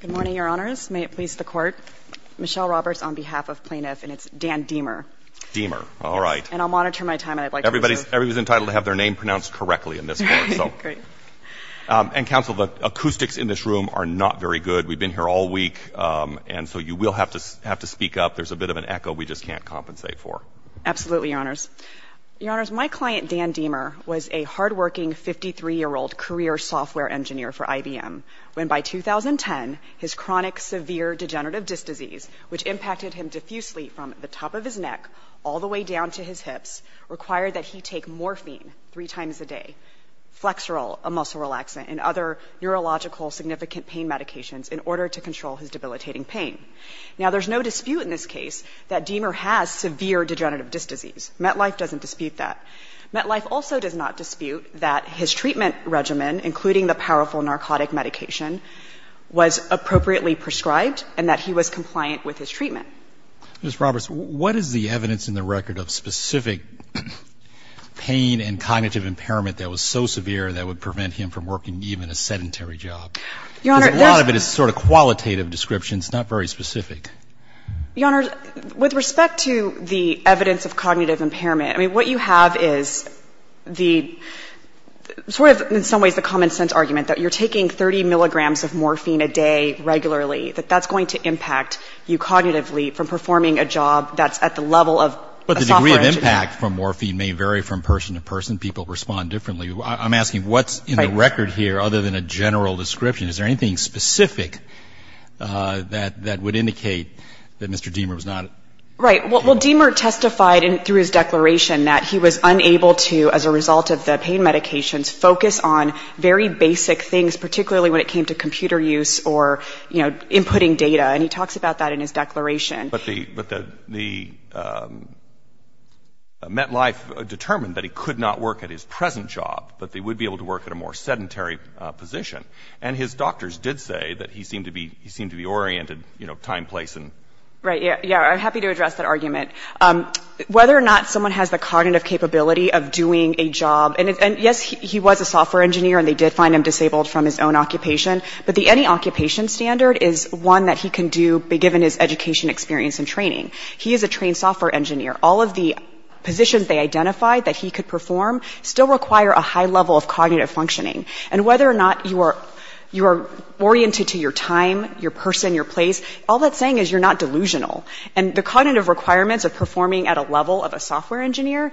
Good morning, Your Honors. May it please the Court. Michelle Roberts on behalf of Plaintiff, and it's Dan Demer. Demer. All right. And I'll monitor my time, and I'd like to reserve... Everybody's entitled to have their name pronounced correctly in this court, so... Great. And, Counsel, the acoustics in this room are not very good. We've been here all week. And so you will have to speak up. There's a bit of an echo we just can't compensate for. Absolutely, Your Honors. Your Honors, my client, Dan Demer, was a hardworking 53-year-old career software engineer for IBM when, by 2010, his chronic severe degenerative disc disease, which impacted him diffusely from the top of his neck all the way down to his hips, required that he take morphine three times a day, Flexeril, a muscle relaxant, and other neurological significant pain medications in order to control his debilitating pain. Now, there's no dispute in this case that Demer has severe degenerative disc disease. MetLife doesn't dispute that. MetLife also does not dispute that his treatment regimen, including the powerful narcotic medication, was appropriately prescribed and that he was compliant with his treatment. Ms. Roberts, what is the evidence in the record of specific pain and cognitive impairment that was so severe that would prevent him from working even a sedentary job? Your Honor, that's... Your Honors, with respect to the evidence of cognitive impairment, I mean, what you have is the sort of, in some ways, the common sense argument that you're taking 30 milligrams of morphine a day regularly, that that's going to impact you cognitively from performing a job that's at the level of a software engineer. But the degree of impact from morphine may vary from person to person. People respond differently. I'm asking what's in the record here other than a general description. Is there anything specific that would indicate that Mr. Demer was not... Right. Well, Demer testified through his declaration that he was unable to, as a result of the pain medications, focus on very basic things, particularly when it came to computer use or, you know, inputting data. And he talks about that in his declaration. But the MetLife determined that he could not work at his present job, but that he would be able to work at a more sedentary position. And his doctors did say that he seemed to be oriented, you know, time, place, and... Right, yeah. I'm happy to address that argument. Whether or not someone has the cognitive capability of doing a job, and, yes, he was a software engineer, and they did find him disabled from his own occupation, but the any-occupation standard is one that he can do, be given his education, experience, and training. He is a trained software engineer. All of the positions they identified that he could perform still require a high level of cognitive functioning. And whether or not you are oriented to your time, your person, your place, all that's saying is you're not delusional. And the cognitive requirements of performing at a level of a software engineer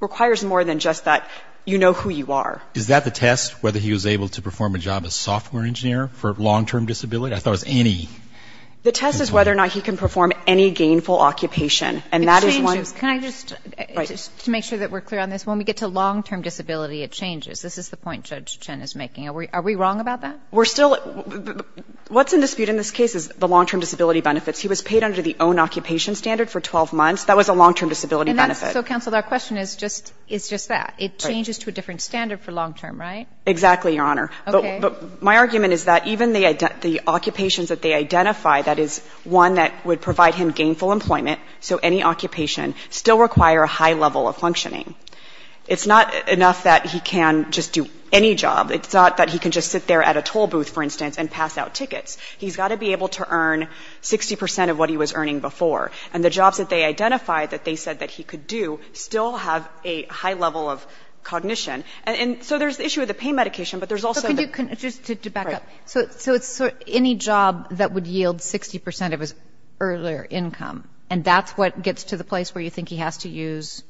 requires more than just that you know who you are. Is that the test, whether he was able to perform a job as a software engineer for long-term disability? I thought it was any. The test is whether or not he can perform any gainful occupation, and that is one... It changes. Can I just, to make sure that we're clear on this, when we get to long-term disability, it changes. This is the point Judge Chen is making. Are we wrong about that? We're still... What's in dispute in this case is the long-term disability benefits. He was paid under the own-occupation standard for 12 months. That was a long-term disability benefit. So, counsel, our question is just that. It changes to a different standard for long-term, right? Exactly, Your Honor. Okay. But my argument is that even the occupations that they identify, that is one that would provide him gainful employment, so any occupation, still require a high level of functioning. It's not enough that he can just do any job. It's not that he can just sit there at a toll booth, for instance, and pass out tickets. He's got to be able to earn 60 percent of what he was earning before. And the jobs that they identified that they said that he could do still have a high level of cognition. And so there's the issue of the pay medication, but there's also... Just to back up. Right. So it's any job that would yield 60 percent of his earlier income, and that's what gets to the place where you think he has to use,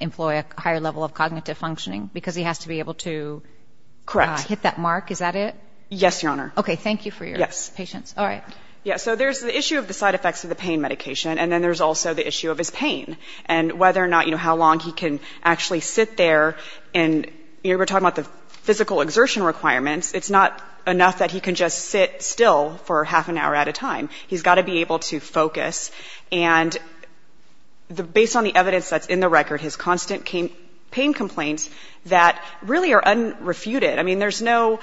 employ a higher level of cognitive functioning, because he has to be able to hit that mark? Correct. Is that it? Yes, Your Honor. Okay. Thank you for your patience. Yes. All right. Yeah, so there's the issue of the side effects of the pain medication, and then there's also the issue of his pain and whether or not, you know, how long he can actually sit there. And, you know, we're talking about the physical exertion requirements. It's not enough that he can just sit still for half an hour at a time. He's got to be able to focus. And based on the evidence that's in the record, his constant pain complaints that really are unrefuted. I mean, there's no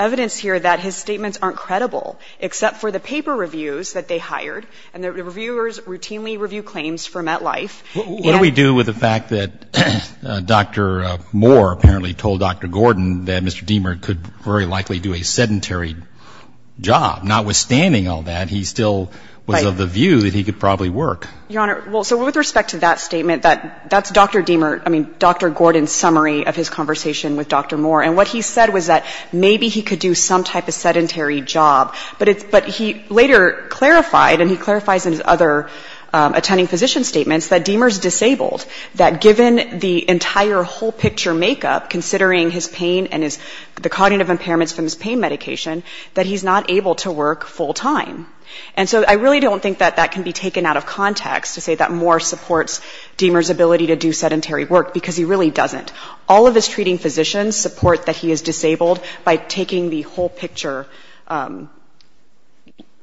evidence here that his statements aren't credible, except for the paper reviews that they hired, and the reviewers routinely review claims for MetLife. What do we do with the fact that Dr. Moore apparently told Dr. Gordon that Mr. Diemer could very likely do a sedentary job, notwithstanding all that he still was of the view that he could probably work? Your Honor, well, so with respect to that statement, that's Dr. Diemer, I mean, Dr. Gordon's summary of his conversation with Dr. Moore. And what he said was that maybe he could do some type of sedentary job. But he later clarified, and he clarifies in his other attending physician statements, that Diemer's disabled, that given the entire whole picture makeup, considering his pain and the cognitive impairments from his pain medication, that he's not able to work full time. And so I really don't think that that can be taken out of context, to say that Moore supports Diemer's ability to do sedentary work, because he really doesn't. All of his treating physicians support that he is disabled by taking the whole picture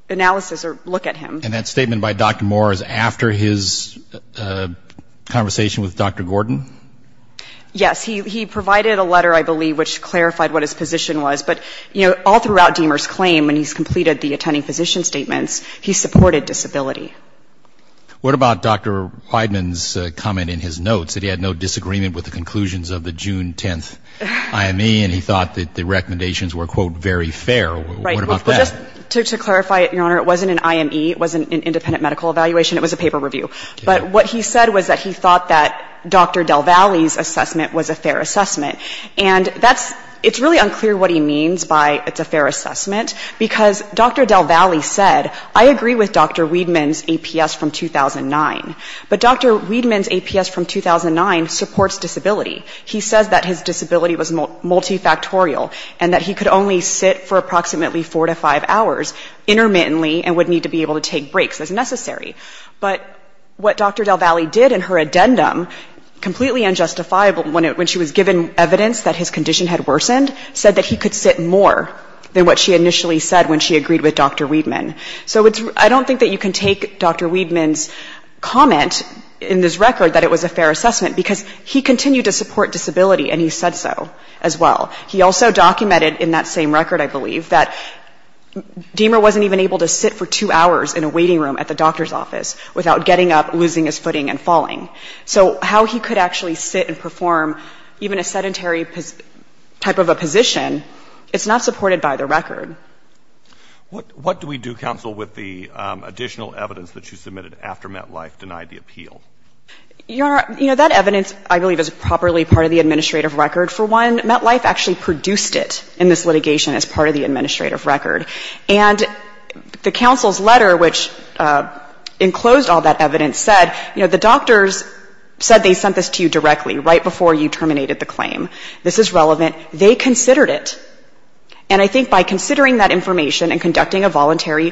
analysis or look at him. And that statement by Dr. Moore is after his conversation with Dr. Gordon? Yes. He provided a letter, I believe, which clarified what his position was. But all throughout Diemer's claim, when he's completed the attending physician statements, he supported disability. What about Dr. Wideman's comment in his notes, that he had no disagreement with the conclusions of the June 10th IME, and he thought that the recommendations were, quote, very fair? What about that? Right. Well, just to clarify it, Your Honor, it wasn't an IME. It wasn't an independent medical evaluation. It was a paper review. But what he said was that he thought that Dr. Del Valle's assessment was a fair assessment. And that's? It's really unclear what he means by it's a fair assessment, because Dr. Del Valle said, I agree with Dr. Wideman's APS from 2009. But Dr. Wideman's APS from 2009 supports disability. He says that his disability was multifactorial and that he could only sit for approximately four to five hours intermittently and would need to be able to take breaks as necessary. But what Dr. Del Valle did in her addendum, completely unjustifiable, when she was given evidence that his condition had worsened, said that he could sit more than what she initially said when she agreed with Dr. Wideman. So I don't think that you can take Dr. Wideman's comment in this record that it was a fair assessment, because he continued to support disability, and he said so as well. He also documented in that same record, I believe, that Diemer wasn't even able to sit for two hours in a waiting room at the doctor's office without getting up, losing his footing, and falling. So how he could actually sit and perform even a sedentary type of a position, it's not supported by the record. What do we do, counsel, with the additional evidence that you submitted after MetLife denied the appeal? Your Honor, you know, that evidence, I believe, is properly part of the administrative record. For one, MetLife actually produced it in this litigation as part of the administrative record. And the counsel's letter, which enclosed all that evidence, said, you know, the doctor's said they sent this to you directly, right before you terminated the claim. This is relevant. They considered it. And I think by considering that information and conducting a voluntary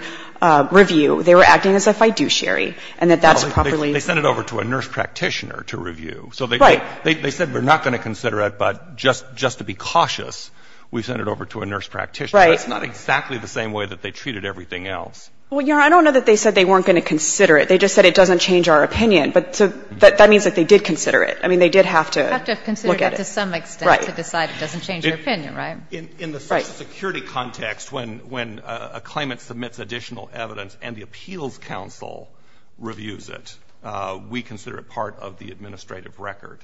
review, they were acting as if I do, Sherry, and that that's properly ---- Well, they sent it over to a nurse practitioner to review. Right. So they said we're not going to consider it, but just to be cautious, we sent it over to a nurse practitioner. Right. That's not exactly the same way that they treated everything else. Well, Your Honor, I don't know that they said they weren't going to consider it. They just said it doesn't change our opinion. But that means that they did consider it. I mean, they did have to look at it. Have to have considered it to some extent to decide it doesn't change your opinion, right? Right. In the social security context, when a claimant submits additional evidence and the appeals counsel reviews it, we consider it part of the administrative record.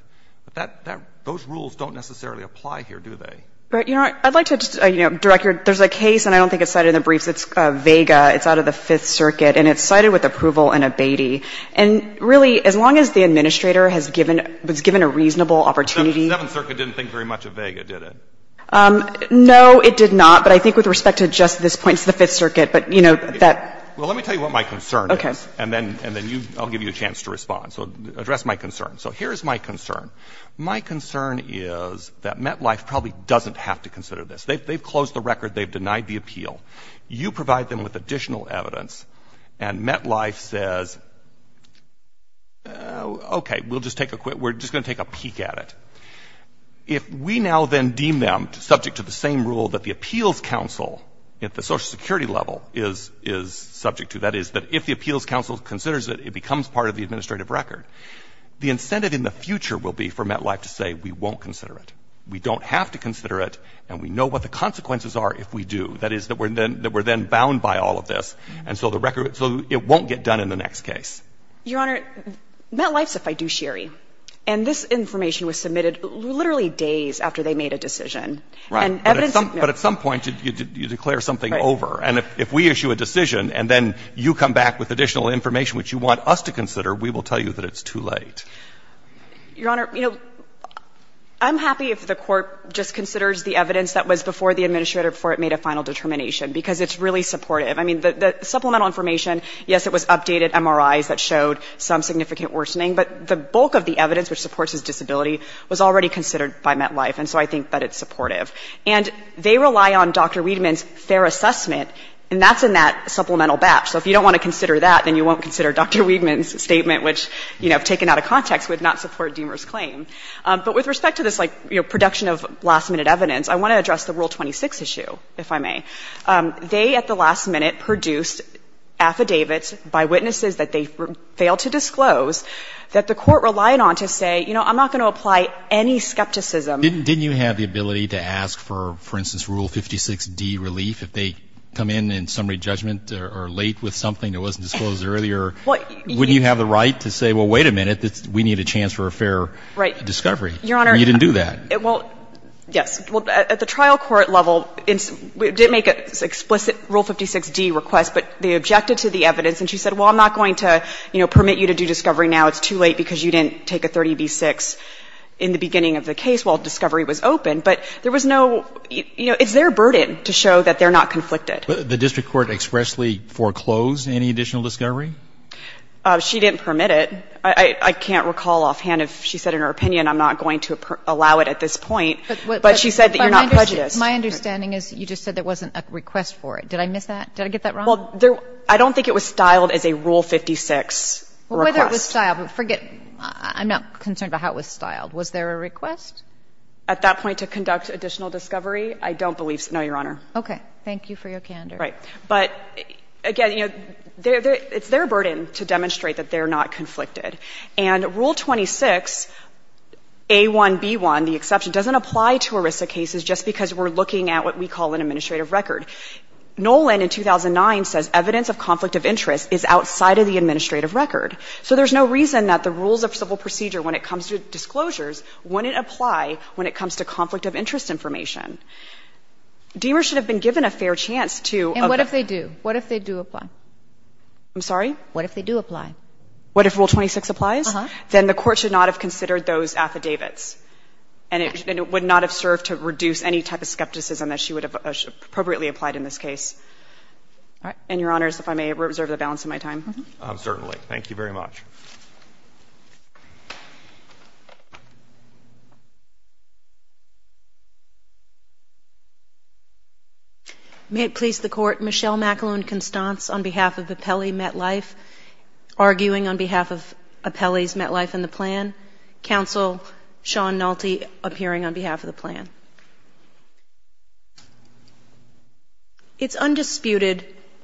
But that ---- those rules don't necessarily apply here, do they? But, Your Honor, I'd like to direct your ---- there's a case, and I don't think it's cited in the briefs. It's Vega. It's out of the Fifth Circuit. And it's cited with approval in Abatey. And really, as long as the administrator has given ---- was given a reasonable opportunity ---- The Seventh Circuit didn't think very much of Vega, did it? No, it did not. But I think with respect to just this point, it's the Fifth Circuit. But, you know, that ---- Well, let me tell you what my concern is. Okay. And then you ---- I'll give you a chance to respond. So address my concern. So here is my concern. My concern is that MetLife probably doesn't have to consider this. They've closed the record. They've denied the appeal. You provide them with additional evidence. And MetLife says, okay, we'll just take a quick ---- we're just going to take a peek at it. If we now then deem them subject to the same rule that the Appeals Council at the Social Security level is subject to, that is, that if the Appeals Council considers it, it becomes part of the administrative record. The incentive in the future will be for MetLife to say, we won't consider it. We don't have to consider it. And we know what the consequences are if we do. That is, that we're then bound by all of this. And so the record ---- so it won't get done in the next case. Your Honor, MetLife's a fiduciary. And this information was submitted literally days after they made a decision. Right. And evidence ---- But at some point you declare something over. Right. And if we issue a decision and then you come back with additional information which you want us to consider, we will tell you that it's too late. Your Honor, you know, I'm happy if the Court just considers the evidence that was before the administrator, before it made a final determination. Because it's really supportive. I mean, the supplemental information, yes, it was updated MRIs that showed some significant worsening. But the bulk of the evidence which supports his disability was already considered by MetLife. And so I think that it's supportive. And they rely on Dr. Wiedemann's fair assessment. And that's in that supplemental batch. So if you don't want to consider that, then you won't consider Dr. Wiedemann's statement, which, you know, taken out of context, would not support Deamer's claim. But with respect to this, like, you know, production of last-minute evidence, I want to address the Rule 26 issue, if I may. They at the last minute produced affidavits by witnesses that they failed to disclose that the Court relied on to say, you know, I'm not going to apply any skepticism. Didn't you have the ability to ask for, for instance, Rule 56d, relief, if they come in in summary judgment or late with something that wasn't disclosed earlier, wouldn't you have the right to say, well, wait a minute, we need a chance for a fair discovery? Your Honor. And you didn't do that. Well, yes. Well, at the trial court level, we did make an explicit Rule 56d request, but they objected to the evidence, and she said, well, I'm not going to, you know, permit you to do discovery now. It's too late because you didn't take a 30b-6 in the beginning of the case while discovery was open. But there was no, you know, it's their burden to show that they're not conflicted. But the district court expressly foreclosed any additional discovery? She didn't permit it. I can't recall offhand if she said in her opinion, I'm not going to allow it at this point, but she said that you're not prejudiced. But my understanding is you just said there wasn't a request for it. Did I miss that? Did I get that wrong? Well, I don't think it was styled as a Rule 56 request. Well, whether it was styled, forget it. I'm not concerned about how it was styled. Was there a request? At that point to conduct additional discovery, I don't believe so. No, Your Honor. Okay. Thank you for your candor. But, again, you know, it's their burden to demonstrate that they're not conflicted. And Rule 26, A1, B1, the exception, doesn't apply to ERISA cases just because we're looking at what we call an administrative record. Nolan in 2009 says evidence of conflict of interest is outside of the administrative record. So there's no reason that the rules of civil procedure when it comes to disclosures wouldn't apply when it comes to conflict of interest information. Demers should have been given a fair chance to ---- And what if they do? What if they do apply? I'm sorry? What if they do apply? What if Rule 26 applies? Uh-huh. Then the Court should not have considered those affidavits. And it would not have served to reduce any type of skepticism that she would have appropriately applied in this case. All right. And, Your Honors, if I may, reserve the balance of my time. Certainly. Thank you very much. May it please the Court. It's undisputed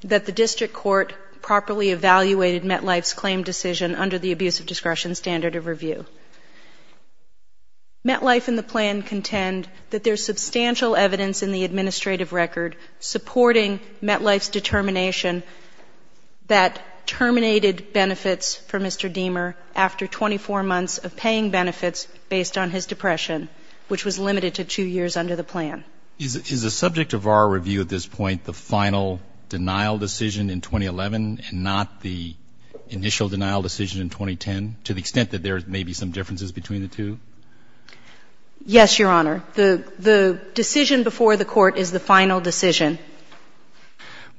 that the district court properly evaluated MetLife's claim decision under the abuse of discretion standard of review. MetLife and the plan contend that there's substantial evidence in the administrative record supporting MetLife's determination that terminated benefits for Mr. Demer after 24 months of paying benefits based on his depression, which was limited to two years under the plan. Is the subject of our review at this point the final denial decision in 2011 and not the initial denial decision in 2010, to the extent that there may be some differences between the two? Yes, Your Honor. The decision before the Court is the final decision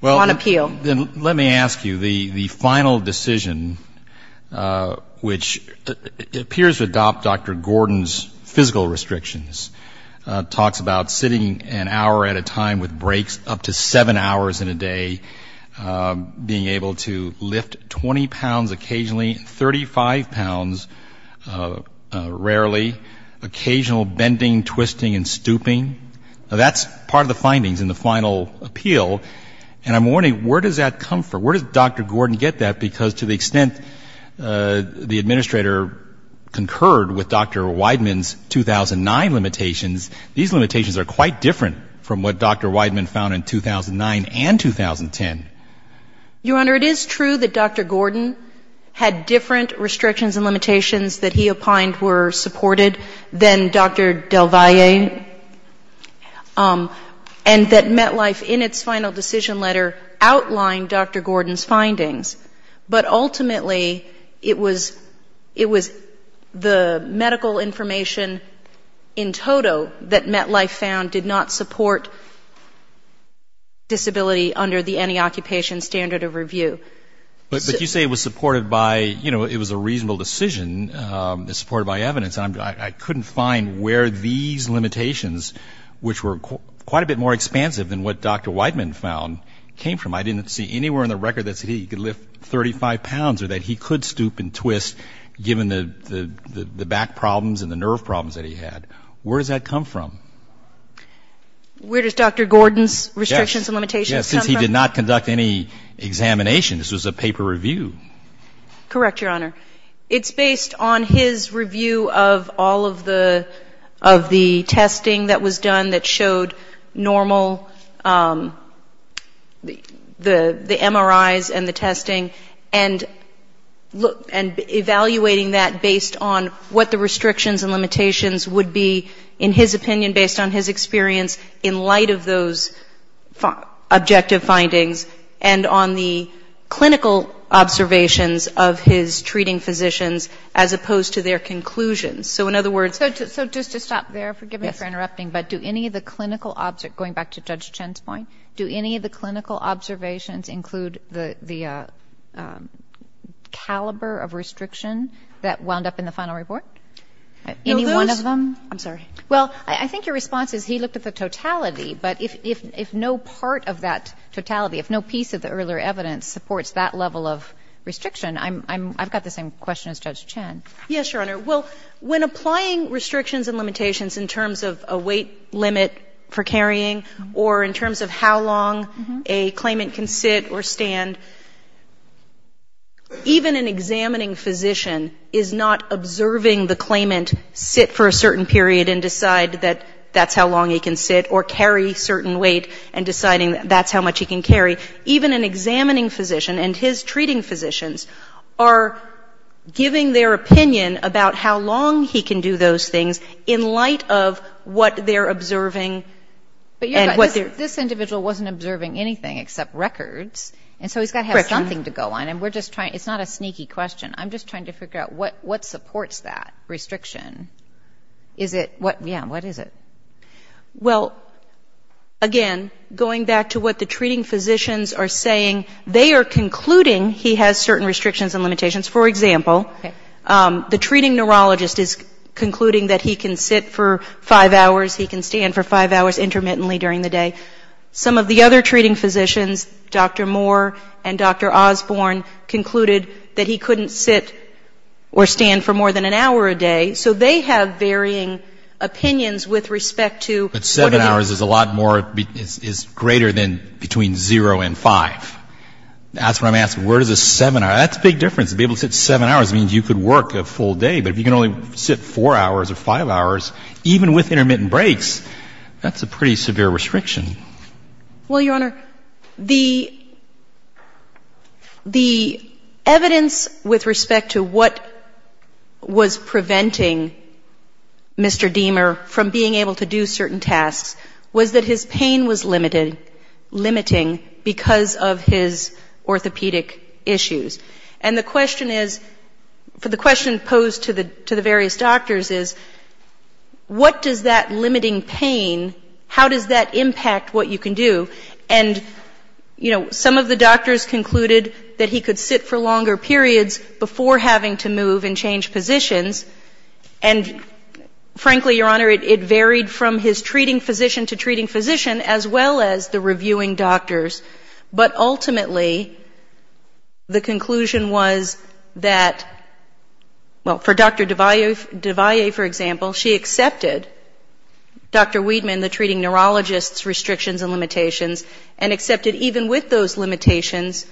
on appeal. Well, then let me ask you, the final decision, which appears to adopt Dr. Gordon's physical restrictions, talks about sitting an hour at a time with breaks up to seven hours in a day, being able to lift 20 pounds occasionally, 35 pounds rarely, occasional bending, twisting and stooping. That's part of the findings in the final appeal. And I'm wondering where does that come from? Where does Dr. Gordon get that? Because to the extent the administrator concurred with Dr. Wideman's 2009 limitations, these limitations are quite different from what Dr. Wideman found in 2009 and 2010. Your Honor, it is true that Dr. Gordon had different restrictions and limitations that he opined were supported than Dr. Del Valle, and that MetLife in its final decision letter outlined Dr. Gordon's findings. But ultimately it was the medical information in total that MetLife found did not support disability under the anti-occupation standard of review. But you say it was supported by, you know, it was a reasonable decision, supported by evidence, and I couldn't find where these limitations, which were quite a bit more expansive than what Dr. Wideman found, came from. I didn't see anywhere in the record that he could lift 35 pounds or that he could stoop and twist, given the back problems and the nerve problems that he had. Where does that come from? Where does Dr. Gordon's restrictions and limitations come from? Yes, since he did not conduct any examination. This was a paper review. Correct, Your Honor. It's based on his review of all of the testing that was done that showed normal, the MRIs and the testing, and evaluating that based on what the restrictions and limitations would be, in his opinion, based on his experience, in light of those objective findings, and on the clinical observations of his treating physicians as opposed to their conclusions. So in other words ‑‑ So just to stop there, forgive me for interrupting, but do any of the clinical ‑‑ going back to Judge Chen's point, do any of the clinical observations include the caliber of restriction that wound up in the final report? Any one of them? I'm sorry. Well, I think your response is he looked at the totality, but if no part of that totality, if no piece of the earlier evidence supports that level of restriction, I'm ‑‑ I've got the same question as Judge Chen. Yes, Your Honor. Well, when applying restrictions and limitations in terms of a weight limit for carrying or in terms of how long a claimant can sit or stand, even an examining physician is not observing the claimant sit for a certain period and decide that that's how long he can sit or carry a certain weight and deciding that's how much he can carry. Even an examining physician and his treating physicians are giving their opinion about how long he can do those things in light of what they're observing and what they're ‑‑ I'm just trying to figure out what supports that restriction. Is it ‑‑ yeah, what is it? Well, again, going back to what the treating physicians are saying, they are concluding he has certain restrictions and limitations. For example, the treating neurologist is concluding that he can sit for five hours, he can stand for five hours intermittently during the day. Some of the other treating physicians, Dr. Moore and Dr. Osborne concluded that he couldn't sit or stand for more than an hour a day. So they have varying opinions with respect to ‑‑ Seven hours is a lot more ‑‑ is greater than between zero and five. That's what I'm asking. Where does a seven hour ‑‑ that's a big difference, to be able to sit seven hours means you could work a full day, but if you can only sit four hours or five hours even with intermittent breaks, that's a pretty severe restriction. Well, Your Honor, the evidence with respect to what was preventing Mr. Diemer from being able to do certain tasks was that his pain was limited, limiting because of his orthopedic issues. And the question is, the question posed to the various doctors is, what does that limiting pain, how does that impact what you can do? And, you know, some of the doctors concluded that he could sit for longer periods before having to move and change positions, and frankly, Your Honor, it varied from his treating physician to treating neurologist. The conclusion was that, well, for Dr. Devaye, for example, she accepted Dr. Weidman, the treating neurologist's restrictions and limitations, and accepted even with those limitations,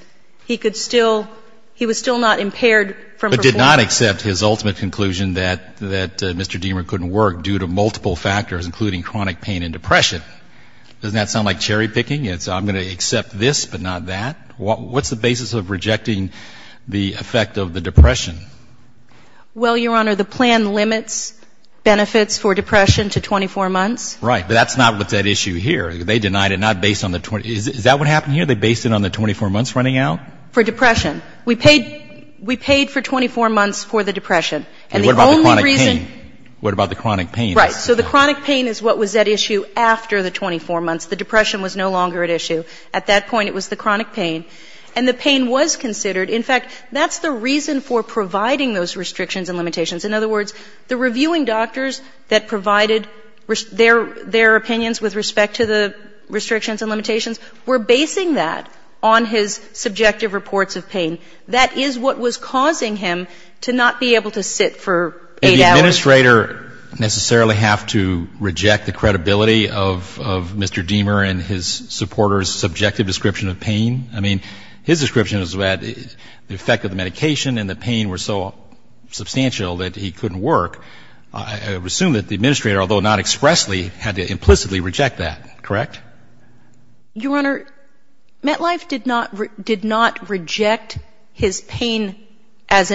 he could still ‑‑ he was still not impaired from ‑‑ But did not accept his ultimate conclusion that Mr. Diemer couldn't work due to multiple factors, including chronic pain and depression. Doesn't that sound like cherry picking? It's I'm going to accept this but not that? What's the basis of rejecting the effect of the depression? Well, Your Honor, the plan limits benefits for depression to 24 months. Right. But that's not what's at issue here. They denied it, not based on the ‑‑ is that what happened here? They based it on the 24 months running out? For depression. We paid for 24 months for the depression. And the only reason ‑‑ What about the chronic pain? What about the chronic pain? Right. So the chronic pain is what was at issue after the 24 months. The depression was no longer at issue. At that point it was the chronic pain. And the pain was considered. In fact, that's the reason for providing those restrictions and limitations. In other words, the reviewing doctors that provided their opinions with respect to the restrictions and limitations were basing that on his subjective reports of pain. That is what was causing him to not be able to sit for eight hours. Did the administrator necessarily have to reject the credibility of Mr. Diemer and his supporters' subjective description of pain? I mean, his description was that the effect of the medication and the pain were so substantial that he couldn't work. I would assume that the administrator, although not expressly, had to implicitly reject that, correct? Your Honor, MetLife did not reject his pain as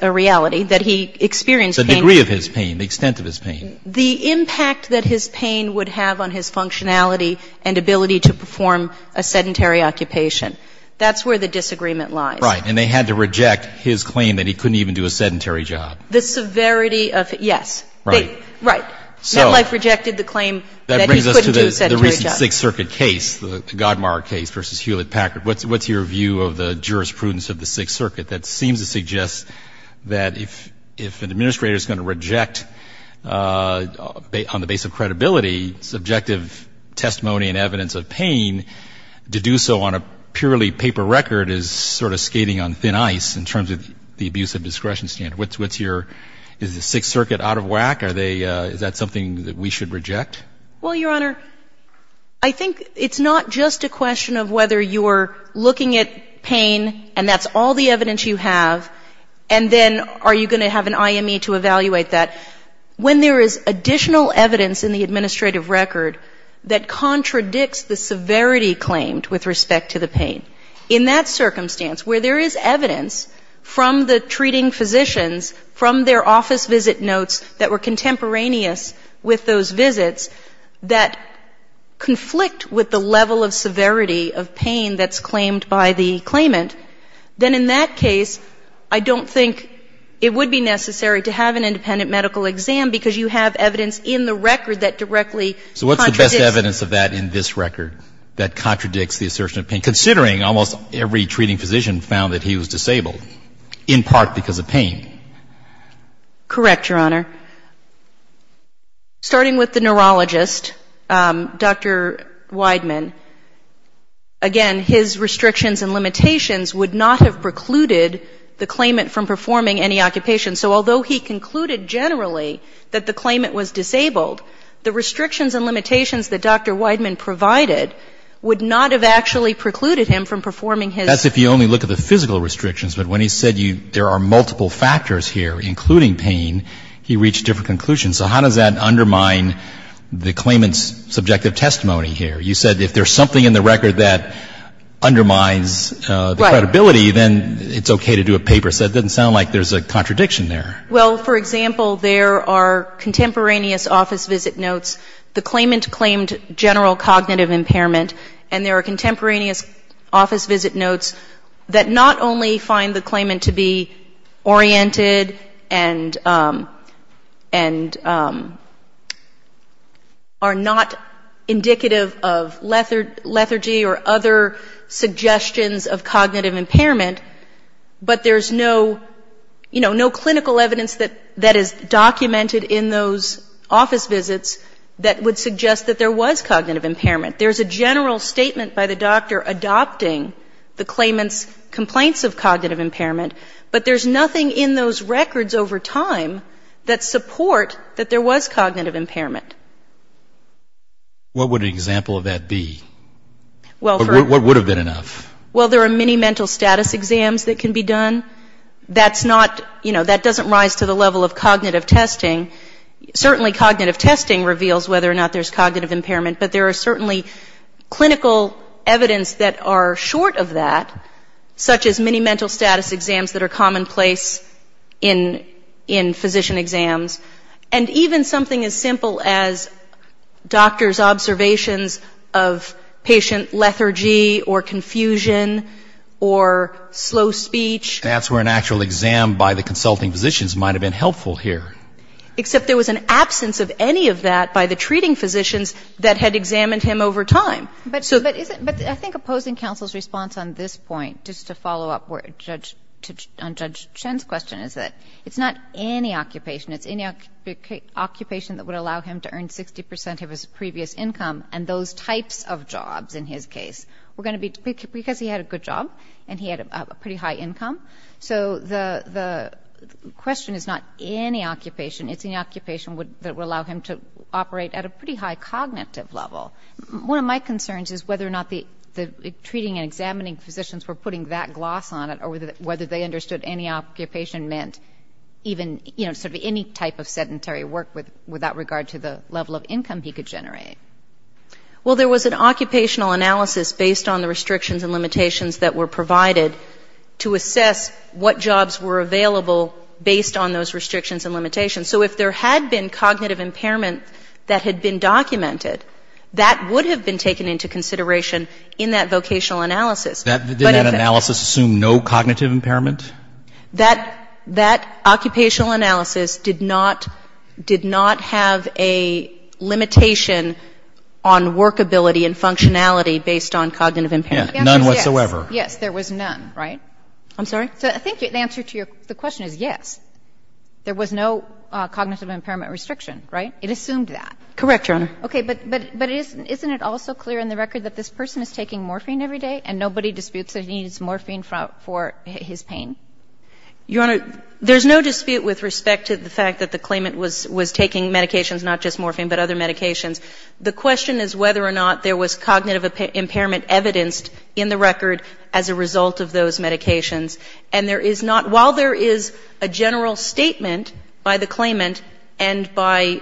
a reality, that he experienced pain. The degree of his pain, the extent of his pain. The impact that his pain would have on his functionality and ability to perform a sedentary occupation. That's where the disagreement lies. Right. And they had to reject his claim that he couldn't even do a sedentary job. The severity of it, yes. Right. Right. MetLife rejected the claim that he couldn't do a sedentary job. That brings us to the recent Sixth Circuit case, the Godmar case v. Hewlett-Packard. What's your view of the jurisprudence of the Sixth Circuit that seems to suggest that if an administrator is going to reject on the basis of credibility subjective testimony and evidence of pain, to do so on a purely paper record is sort of skating on thin ice in terms of the abuse of discretion standard? What's your — is the Sixth Circuit out of whack? Are they — is that something that we should reject? Well, Your Honor, I think it's not just a question of whether you're looking at pain and that's all the evidence you have, and then are you going to have an IME to evaluate that. When there is additional evidence in the administrative record that contradicts the severity claimed with respect to the pain, in that circumstance where there is evidence from the treating physicians, from their office visit notes that were contemporaneous with those visits that conflict with the level of severity of pain that's claimed by the claimant, then in that case, I don't think it would be necessary to have an independent medical exam because you have evidence in the record that directly contradicts the assertion of pain. So what's the best evidence of that in this record that contradicts the assertion of pain, considering almost every treating physician found that he was disabled, in part because of pain? Correct, Your Honor. Starting with the neurologist, Dr. Wideman, again, his restrictions and limitations would not have precluded the claimant from performing any occupation. So although he concluded generally that the claimant was disabled, the restrictions and limitations that Dr. Wideman provided would not have actually precluded him from performing his work. That's if you only look at the physical restrictions. But when he said there are multiple factors here, including pain, he reached different conclusions. So how does that undermine the claimant's subjective testimony here? You said if there's something in the record that undermines the credibility, then it's okay to do a paper. So that doesn't sound like there's a contradiction there. Well, for example, there are contemporaneous office visit notes. The claimant claimed general cognitive impairment. And there are contemporaneous office visit notes that not only find the claimant to be oriented and, and, you know, are not indicative of lethargy or other suggestions of cognitive impairment, but there's no, you know, no clinical evidence that, that is documented in those office visits that would suggest that there was cognitive impairment. There's a general statement by the doctor adopting the claimant's complaints of cognitive impairment, but there's nothing in those records over time that support that there was cognitive impairment. What would an example of that be? What would have been enough? Well, there are many mental status exams that can be done. That's not, you know, that doesn't rise to the level of cognitive testing. Certainly cognitive testing reveals whether or not there's cognitive impairment, but there are certainly clinical evidence that are short of that, such as many mental status exams that are commonplace in, in physician exams. And even something as simple as doctor's observations of patient lethargy or confusion or slow speech. That's where an actual exam by the consulting physicians might have been helpful here. Except there was an absence of any of that by the treating physicians that had examined him over time. But I think opposing counsel's response on this point, just to follow up on Judge Chen's question, is that it's not any occupation. It's any occupation that would allow him to earn 60 percent of his previous income, and those types of jobs, in his case, were going to be, because he had a good job and he had a pretty high income, so the question is not any occupation. It's an occupation that would allow him to operate at a pretty high cognitive level. One of my concerns is whether or not the treating and examining physicians were putting that gloss on it, or whether they understood any occupation meant even, you know, sort of any type of sedentary work without regard to the level of income he could generate. Well, there was an occupational analysis based on the restrictions and limitations that were provided to assess what jobs were available based on those limitations. So if there was a cognitive impairment that had been documented, that would have been taken into consideration in that vocational analysis. But if it — Didn't that analysis assume no cognitive impairment? That — that occupational analysis did not — did not have a limitation on workability and functionality based on cognitive impairment. None whatsoever. Yes. There was none, right? I'm sorry? So I think the answer to your — the question is yes. There was no cognitive impairment restriction, right? It assumed that. Correct, Your Honor. Okay. But isn't it also clear in the record that this person is taking morphine every day and nobody disputes that he needs morphine for his pain? Your Honor, there's no dispute with respect to the fact that the claimant was taking medications, not just morphine, but other medications. The question is whether or not there was cognitive impairment evidenced in the record as a result of those medications. And there is not — while there is a general statement by the claimant and by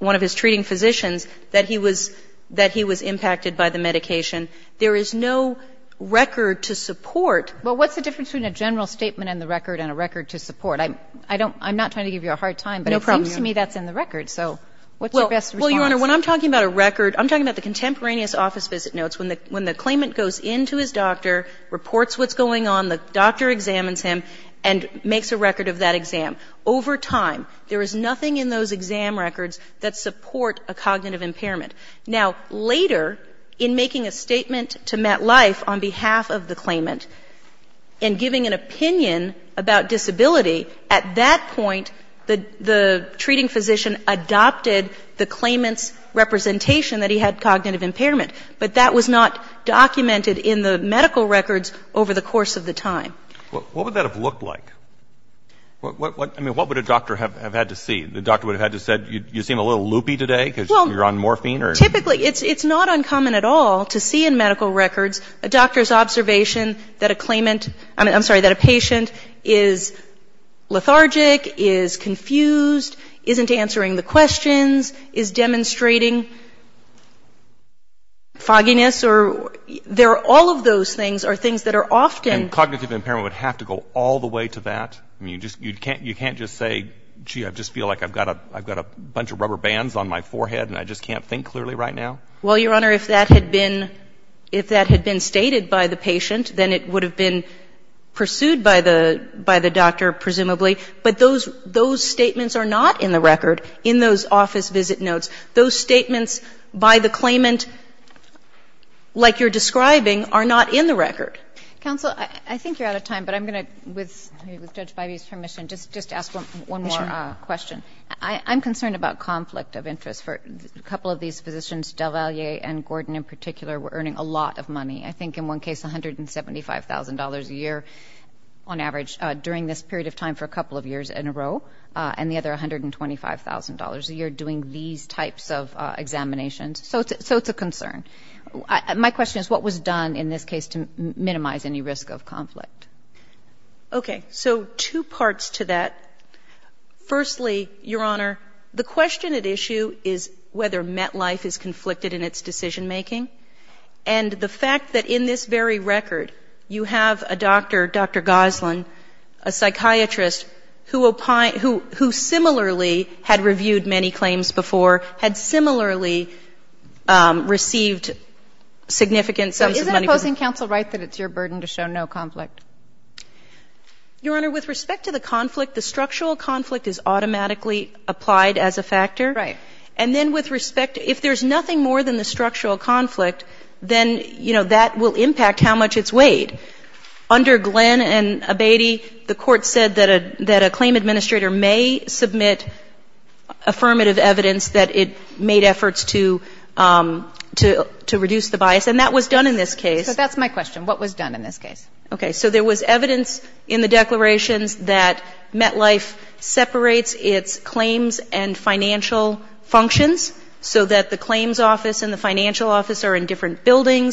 one of his treating physicians that he was — that he was impacted by the medication, there is no record to support — Well, what's the difference between a general statement in the record and a record to support? I'm — I don't — I'm not trying to give you a hard time, but it seems to me that's in the record. So what's your best response? Well, Your Honor, when I'm talking about a record, I'm talking about the contemporaneous office visit notes. When the — when the claimant goes in to his doctor, reports what's going on, the exam. Over time, there is nothing in those exam records that support a cognitive impairment. Now, later, in making a statement to MetLife on behalf of the claimant and giving an opinion about disability, at that point, the — the treating physician adopted the claimant's representation that he had cognitive impairment. But that was not documented in the medical records over the course of the time. Well, what would that have looked like? I mean, what would a doctor have had to see? The doctor would have had to said, you seem a little loopy today because you're on morphine or — Well, typically, it's not uncommon at all to see in medical records a doctor's observation that a claimant — I'm sorry, that a patient is lethargic, is confused, isn't answering the questions, is demonstrating fogginess or — they're — all of those things are things that are often — And cognitive impairment would have to go all the way to that? I mean, you can't just say, gee, I just feel like I've got a bunch of rubber bands on my forehead and I just can't think clearly right now? Well, Your Honor, if that had been — if that had been stated by the patient, then it would have been pursued by the doctor, presumably. But those statements are not in the record, in those office visit notes. Those statements by the claimant, like you're describing, are not in the record. Counsel, I think you're out of time, but I'm going to, with Judge Bivey's permission, just ask one more question. Sure. I'm concerned about conflict of interest for a couple of these physicians. Delvalier and Gordon, in particular, were earning a lot of money. I think, in one case, $175,000 a year, on average, during this period of time for a couple of years in a row, and the other $125,000 a year doing these types of examinations. So it's a concern. My question is, what was done in this case to minimize any risk of conflict? Okay. So two parts to that. Firstly, Your Honor, the question at issue is whether MetLife is conflicted in its decision-making. And the fact that in this very record, you have a doctor, Dr. Goslin, a psychiatrist, who similarly had reviewed many claims before, had similarly received significant sums of money. So isn't opposing counsel right that it's your burden to show no conflict? Your Honor, with respect to the conflict, the structural conflict is automatically applied as a factor. Right. And then with respect, if there's nothing more than the structural conflict, then, you know, that will impact how much it's weighed. Under Glenn and Abatey, the Court said that a claim administrator may submit affirmative evidence that it made efforts to reduce the bias. And that was done in this case. So that's my question. What was done in this case? Okay. So there was evidence in the declarations that MetLife separates its claims and financial functions so that the claims office and the financial office are in a position to be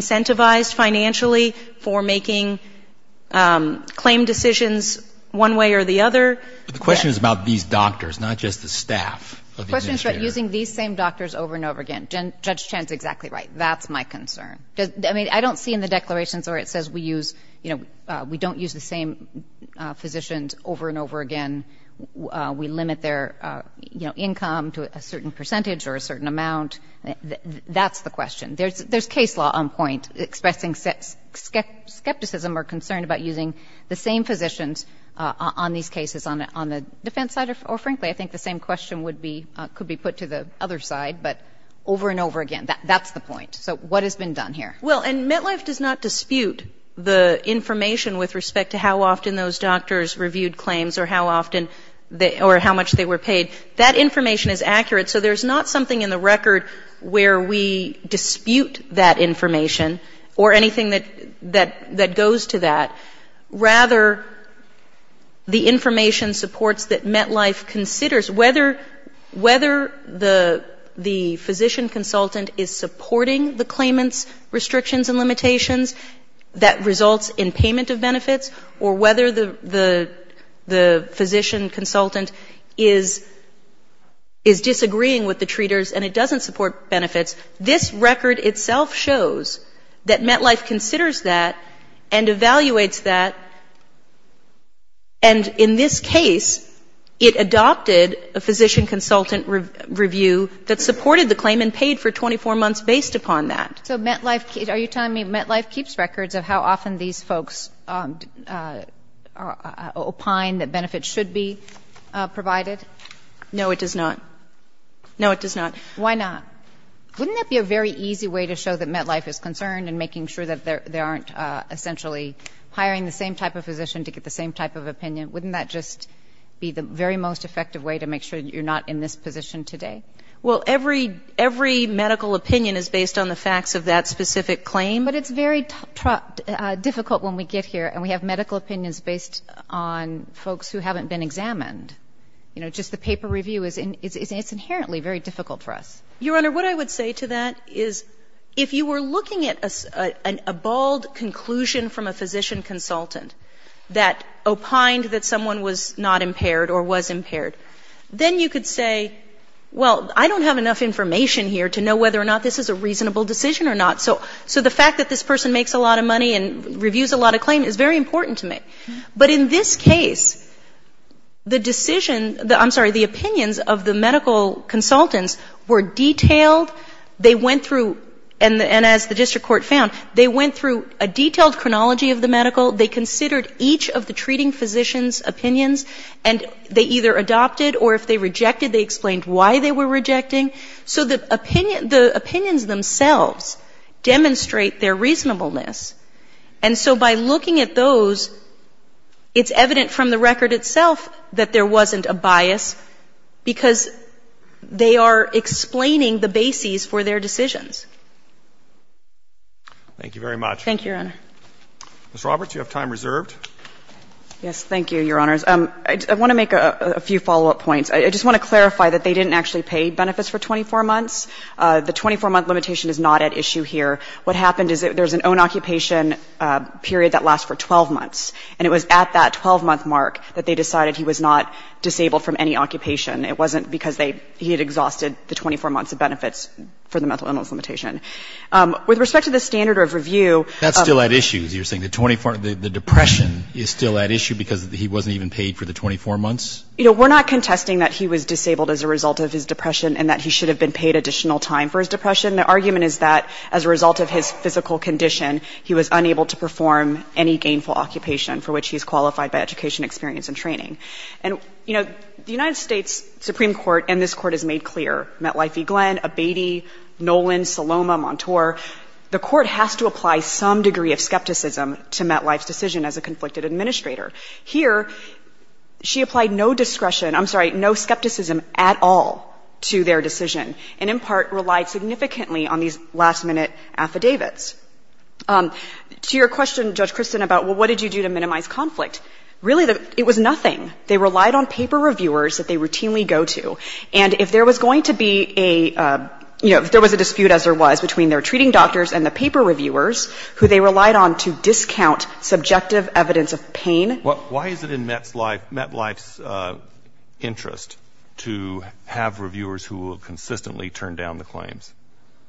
supervised financially for making claim decisions one way or the other. But the question is about these doctors, not just the staff of the administrator. The question is about using these same doctors over and over again. Judge Chan is exactly right. That's my concern. I mean, I don't see in the declarations where it says we use, you know, we don't use the same physicians over and over again. We limit their, you know, income to a certain percentage or a certain amount. That's the question. There's case law on point expressing skepticism or concern about using the same physicians on these cases on the defense side or, frankly, I think the same question would be, could be put to the other side, but over and over again. That's the point. So what has been done here? Well, and MetLife does not dispute the information with respect to how often those doctors reviewed claims or how often they or how much they were paid. That information is accurate, so there's not something in the record where we dispute that information or anything that goes to that. Rather, the information supports that MetLife considers whether the physician consultant is supporting the claimant's restrictions and limitations, that results in payment of benefits, or whether the physician consultant is supporting benefits, is disagreeing with the treaters, and it doesn't support benefits. This record itself shows that MetLife considers that and evaluates that, and in this case, it adopted a physician consultant review that supported the claim and paid for 24 months based upon that. So MetLife, are you telling me MetLife keeps records of how often these folks opine that benefits should be provided? No, it does not. No, it does not. Why not? Wouldn't that be a very easy way to show that MetLife is concerned in making sure that they aren't essentially hiring the same type of physician to get the same type of opinion? Wouldn't that just be the very most effective way to make sure you're not in this position today? Well, every medical opinion is based on the facts of that specific claim. But it's very difficult when we get here, and we have medical opinions based on folks who haven't been examined. You know, just the paper review is inherently very difficult for us. Your Honor, what I would say to that is if you were looking at a bald conclusion from a physician consultant that opined that someone was not impaired or was impaired, then you could say, well, I don't have enough information here to know whether or not this is a reasonable decision or not. So the fact that this person makes a lot of money and reviews a lot of claims is very important to me. But in this case, the decision the ‑‑ I'm sorry, the opinions of the medical consultants were detailed. They went through, and as the district court found, they went through a detailed chronology of the medical. They considered each of the treating physician's opinions. And they either adopted, or if they rejected, they explained why they were rejecting. So the opinions themselves demonstrate their reasonableness. And so by looking at those, it's evident from the record itself that there wasn't a bias because they are explaining the bases for their decisions. Thank you, Your Honor. Ms. Roberts, you have time reserved. Yes. Thank you, Your Honors. I want to make a few follow-up points. I just want to clarify that they didn't actually pay benefits for 24 months. The 24-month limitation is not at issue here. What happened is there's an own occupation period that lasts for 12 months. And it was at that 12-month mark that they decided he was not disabled from any occupation. It wasn't because he had exhausted the 24 months of benefits for the mental illness limitation. With respect to the standard of review ‑‑ That's still at issue, is what you're saying. The depression is still at issue because he wasn't even paid for the 24 months? You know, we're not contesting that he was disabled as a result of his depression and that he should have been paid additional time for his depression. The argument is that, as a result of his physical condition, he was unable to perform any gainful occupation for which he's qualified by education, experience, and training. And, you know, the United States Supreme Court and this Court has made clear, Metlifey, Glenn, Abatey, Nolan, Saloma, Montour, the Court has to apply some degree of skepticism to Metlife's decision as a conflicted administrator. Here, she applied no discretion ‑‑ I'm sorry, no skepticism at all to their decision and, in part, relied significantly on these last‑minute affidavits. To your question, Judge Christin, about, well, what did you do to minimize conflict, really, it was nothing. They relied on paper reviewers that they routinely go to. And if there was going to be a ‑‑ you know, if there was a dispute, as there was, between their treating doctors and the paper reviewers who they relied on to discount subjective evidence of pain ‑‑ Well, why is it in Metlife's interest to have reviewers who will consistently turn down the claims?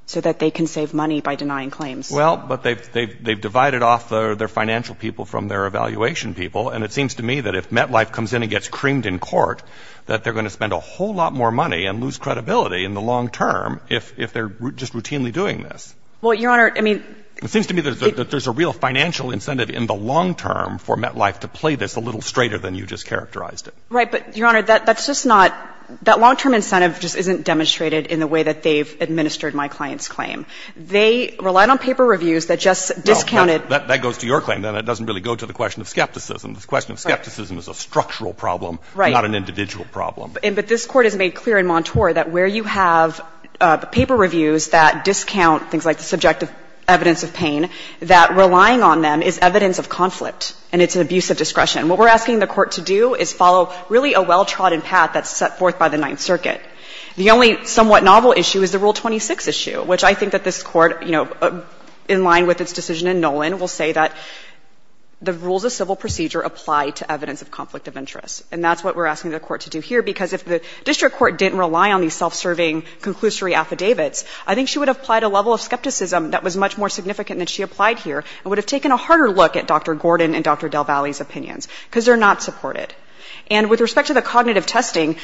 So that they can save money by denying claims. Well, but they've divided off their financial people from their evaluation people. And it seems to me that if Metlife comes in and gets creamed in court, that they're going to spend a whole lot more money and lose credibility in the long term if they're just routinely doing this. Well, Your Honor, I mean ‑‑ It seems to me that there's a real financial incentive in the long term for them to do this. It seems to me there's a little straighter than you just characterized it. Right. But, Your Honor, that's just not ‑‑ that long-term incentive just isn't demonstrated in the way that they've administered my client's claim. They relied on paper reviews that just discounted ‑‑ Well, that goes to your claim, then. It doesn't really go to the question of skepticism. The question of skepticism is a structural problem, not an individual problem. Right. But this Court has made clear in Montour that where you have paper reviews that discount things like the subjective evidence of pain, that relying on them is evidence of conflict, and it's an abuse of discretion. What we're asking the Court to do is follow really a well-trodden path that's set forth by the Ninth Circuit. The only somewhat novel issue is the Rule 26 issue, which I think that this Court, you know, in line with its decision in Nolan, will say that the rules of civil procedure apply to evidence of conflict of interest. And that's what we're asking the Court to do here, because if the district court didn't rely on these self-serving conclusory affidavits, I think she would have applied a level of skepticism that was much more significant than she applied here and would have taken a harder look at Dr. Gordon and Dr. Del Valle's opinions, because they're not supported. And with respect to the cognitive testing,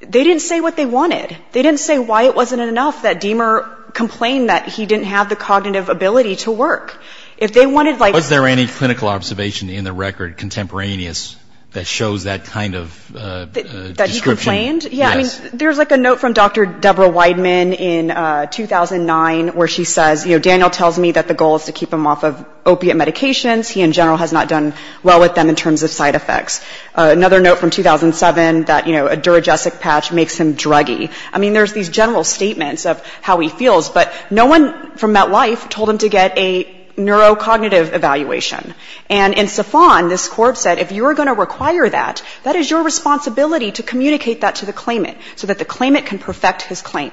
they didn't say what they wanted. They didn't say why it wasn't enough that Deamer complained that he didn't have the cognitive ability to work. If they wanted, like... Was there any clinical observation in the record contemporaneous that shows that kind of description? That he complained? Yes. Yeah, I mean, there's like a note from Dr. Deborah Wideman in 2009 where she says, you know, the goal is to keep him off of opiate medications. He, in general, has not done well with them in terms of side effects. Another note from 2007 that, you know, a duragesic patch makes him druggie. I mean, there's these general statements of how he feels, but no one from MetLife told him to get a neurocognitive evaluation. And in Safan, this Court said, if you're going to require that, that is your responsibility to communicate that to the claimant so that the claimant can perfect his claim.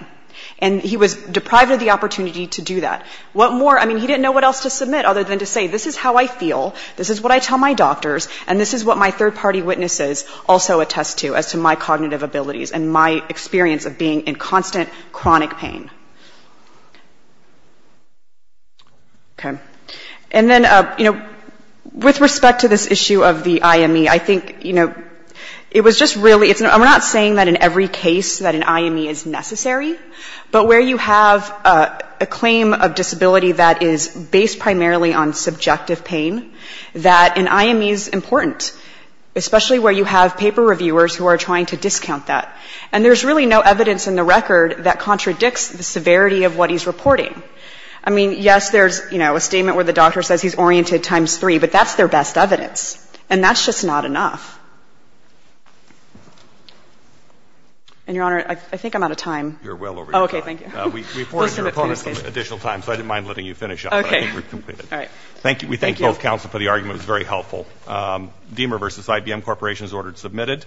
And he was deprived of the opportunity to do that. What more? I mean, he didn't know what else to submit other than to say, this is how I feel, this is what I tell my doctors, and this is what my third-party witnesses also attest to as to my cognitive abilities and my experience of being in constant chronic pain. Okay. And then, you know, with respect to this issue of the IME, I think, you know, it was just really... I'm not saying that in every case that an IME is necessary, but where you have a claim of disability that is based primarily on subjective pain, that an IME is important, especially where you have paper reviewers who are trying to discount that. And there's really no evidence in the record that contradicts the severity of what he's reporting. I mean, yes, there's, you know, a statement where the doctor says he's oriented times 3, but that's their best evidence. And that's just not enough. And, Your Honor, I think I'm out of time. You're well over your time. Okay, thank you. We appointed your opponent some additional time, so I didn't mind letting you finish up. Okay. All right. Thank you. We thank both counsel for the argument. It was very helpful. Diemer v. IBM Corporation is ordered submitted.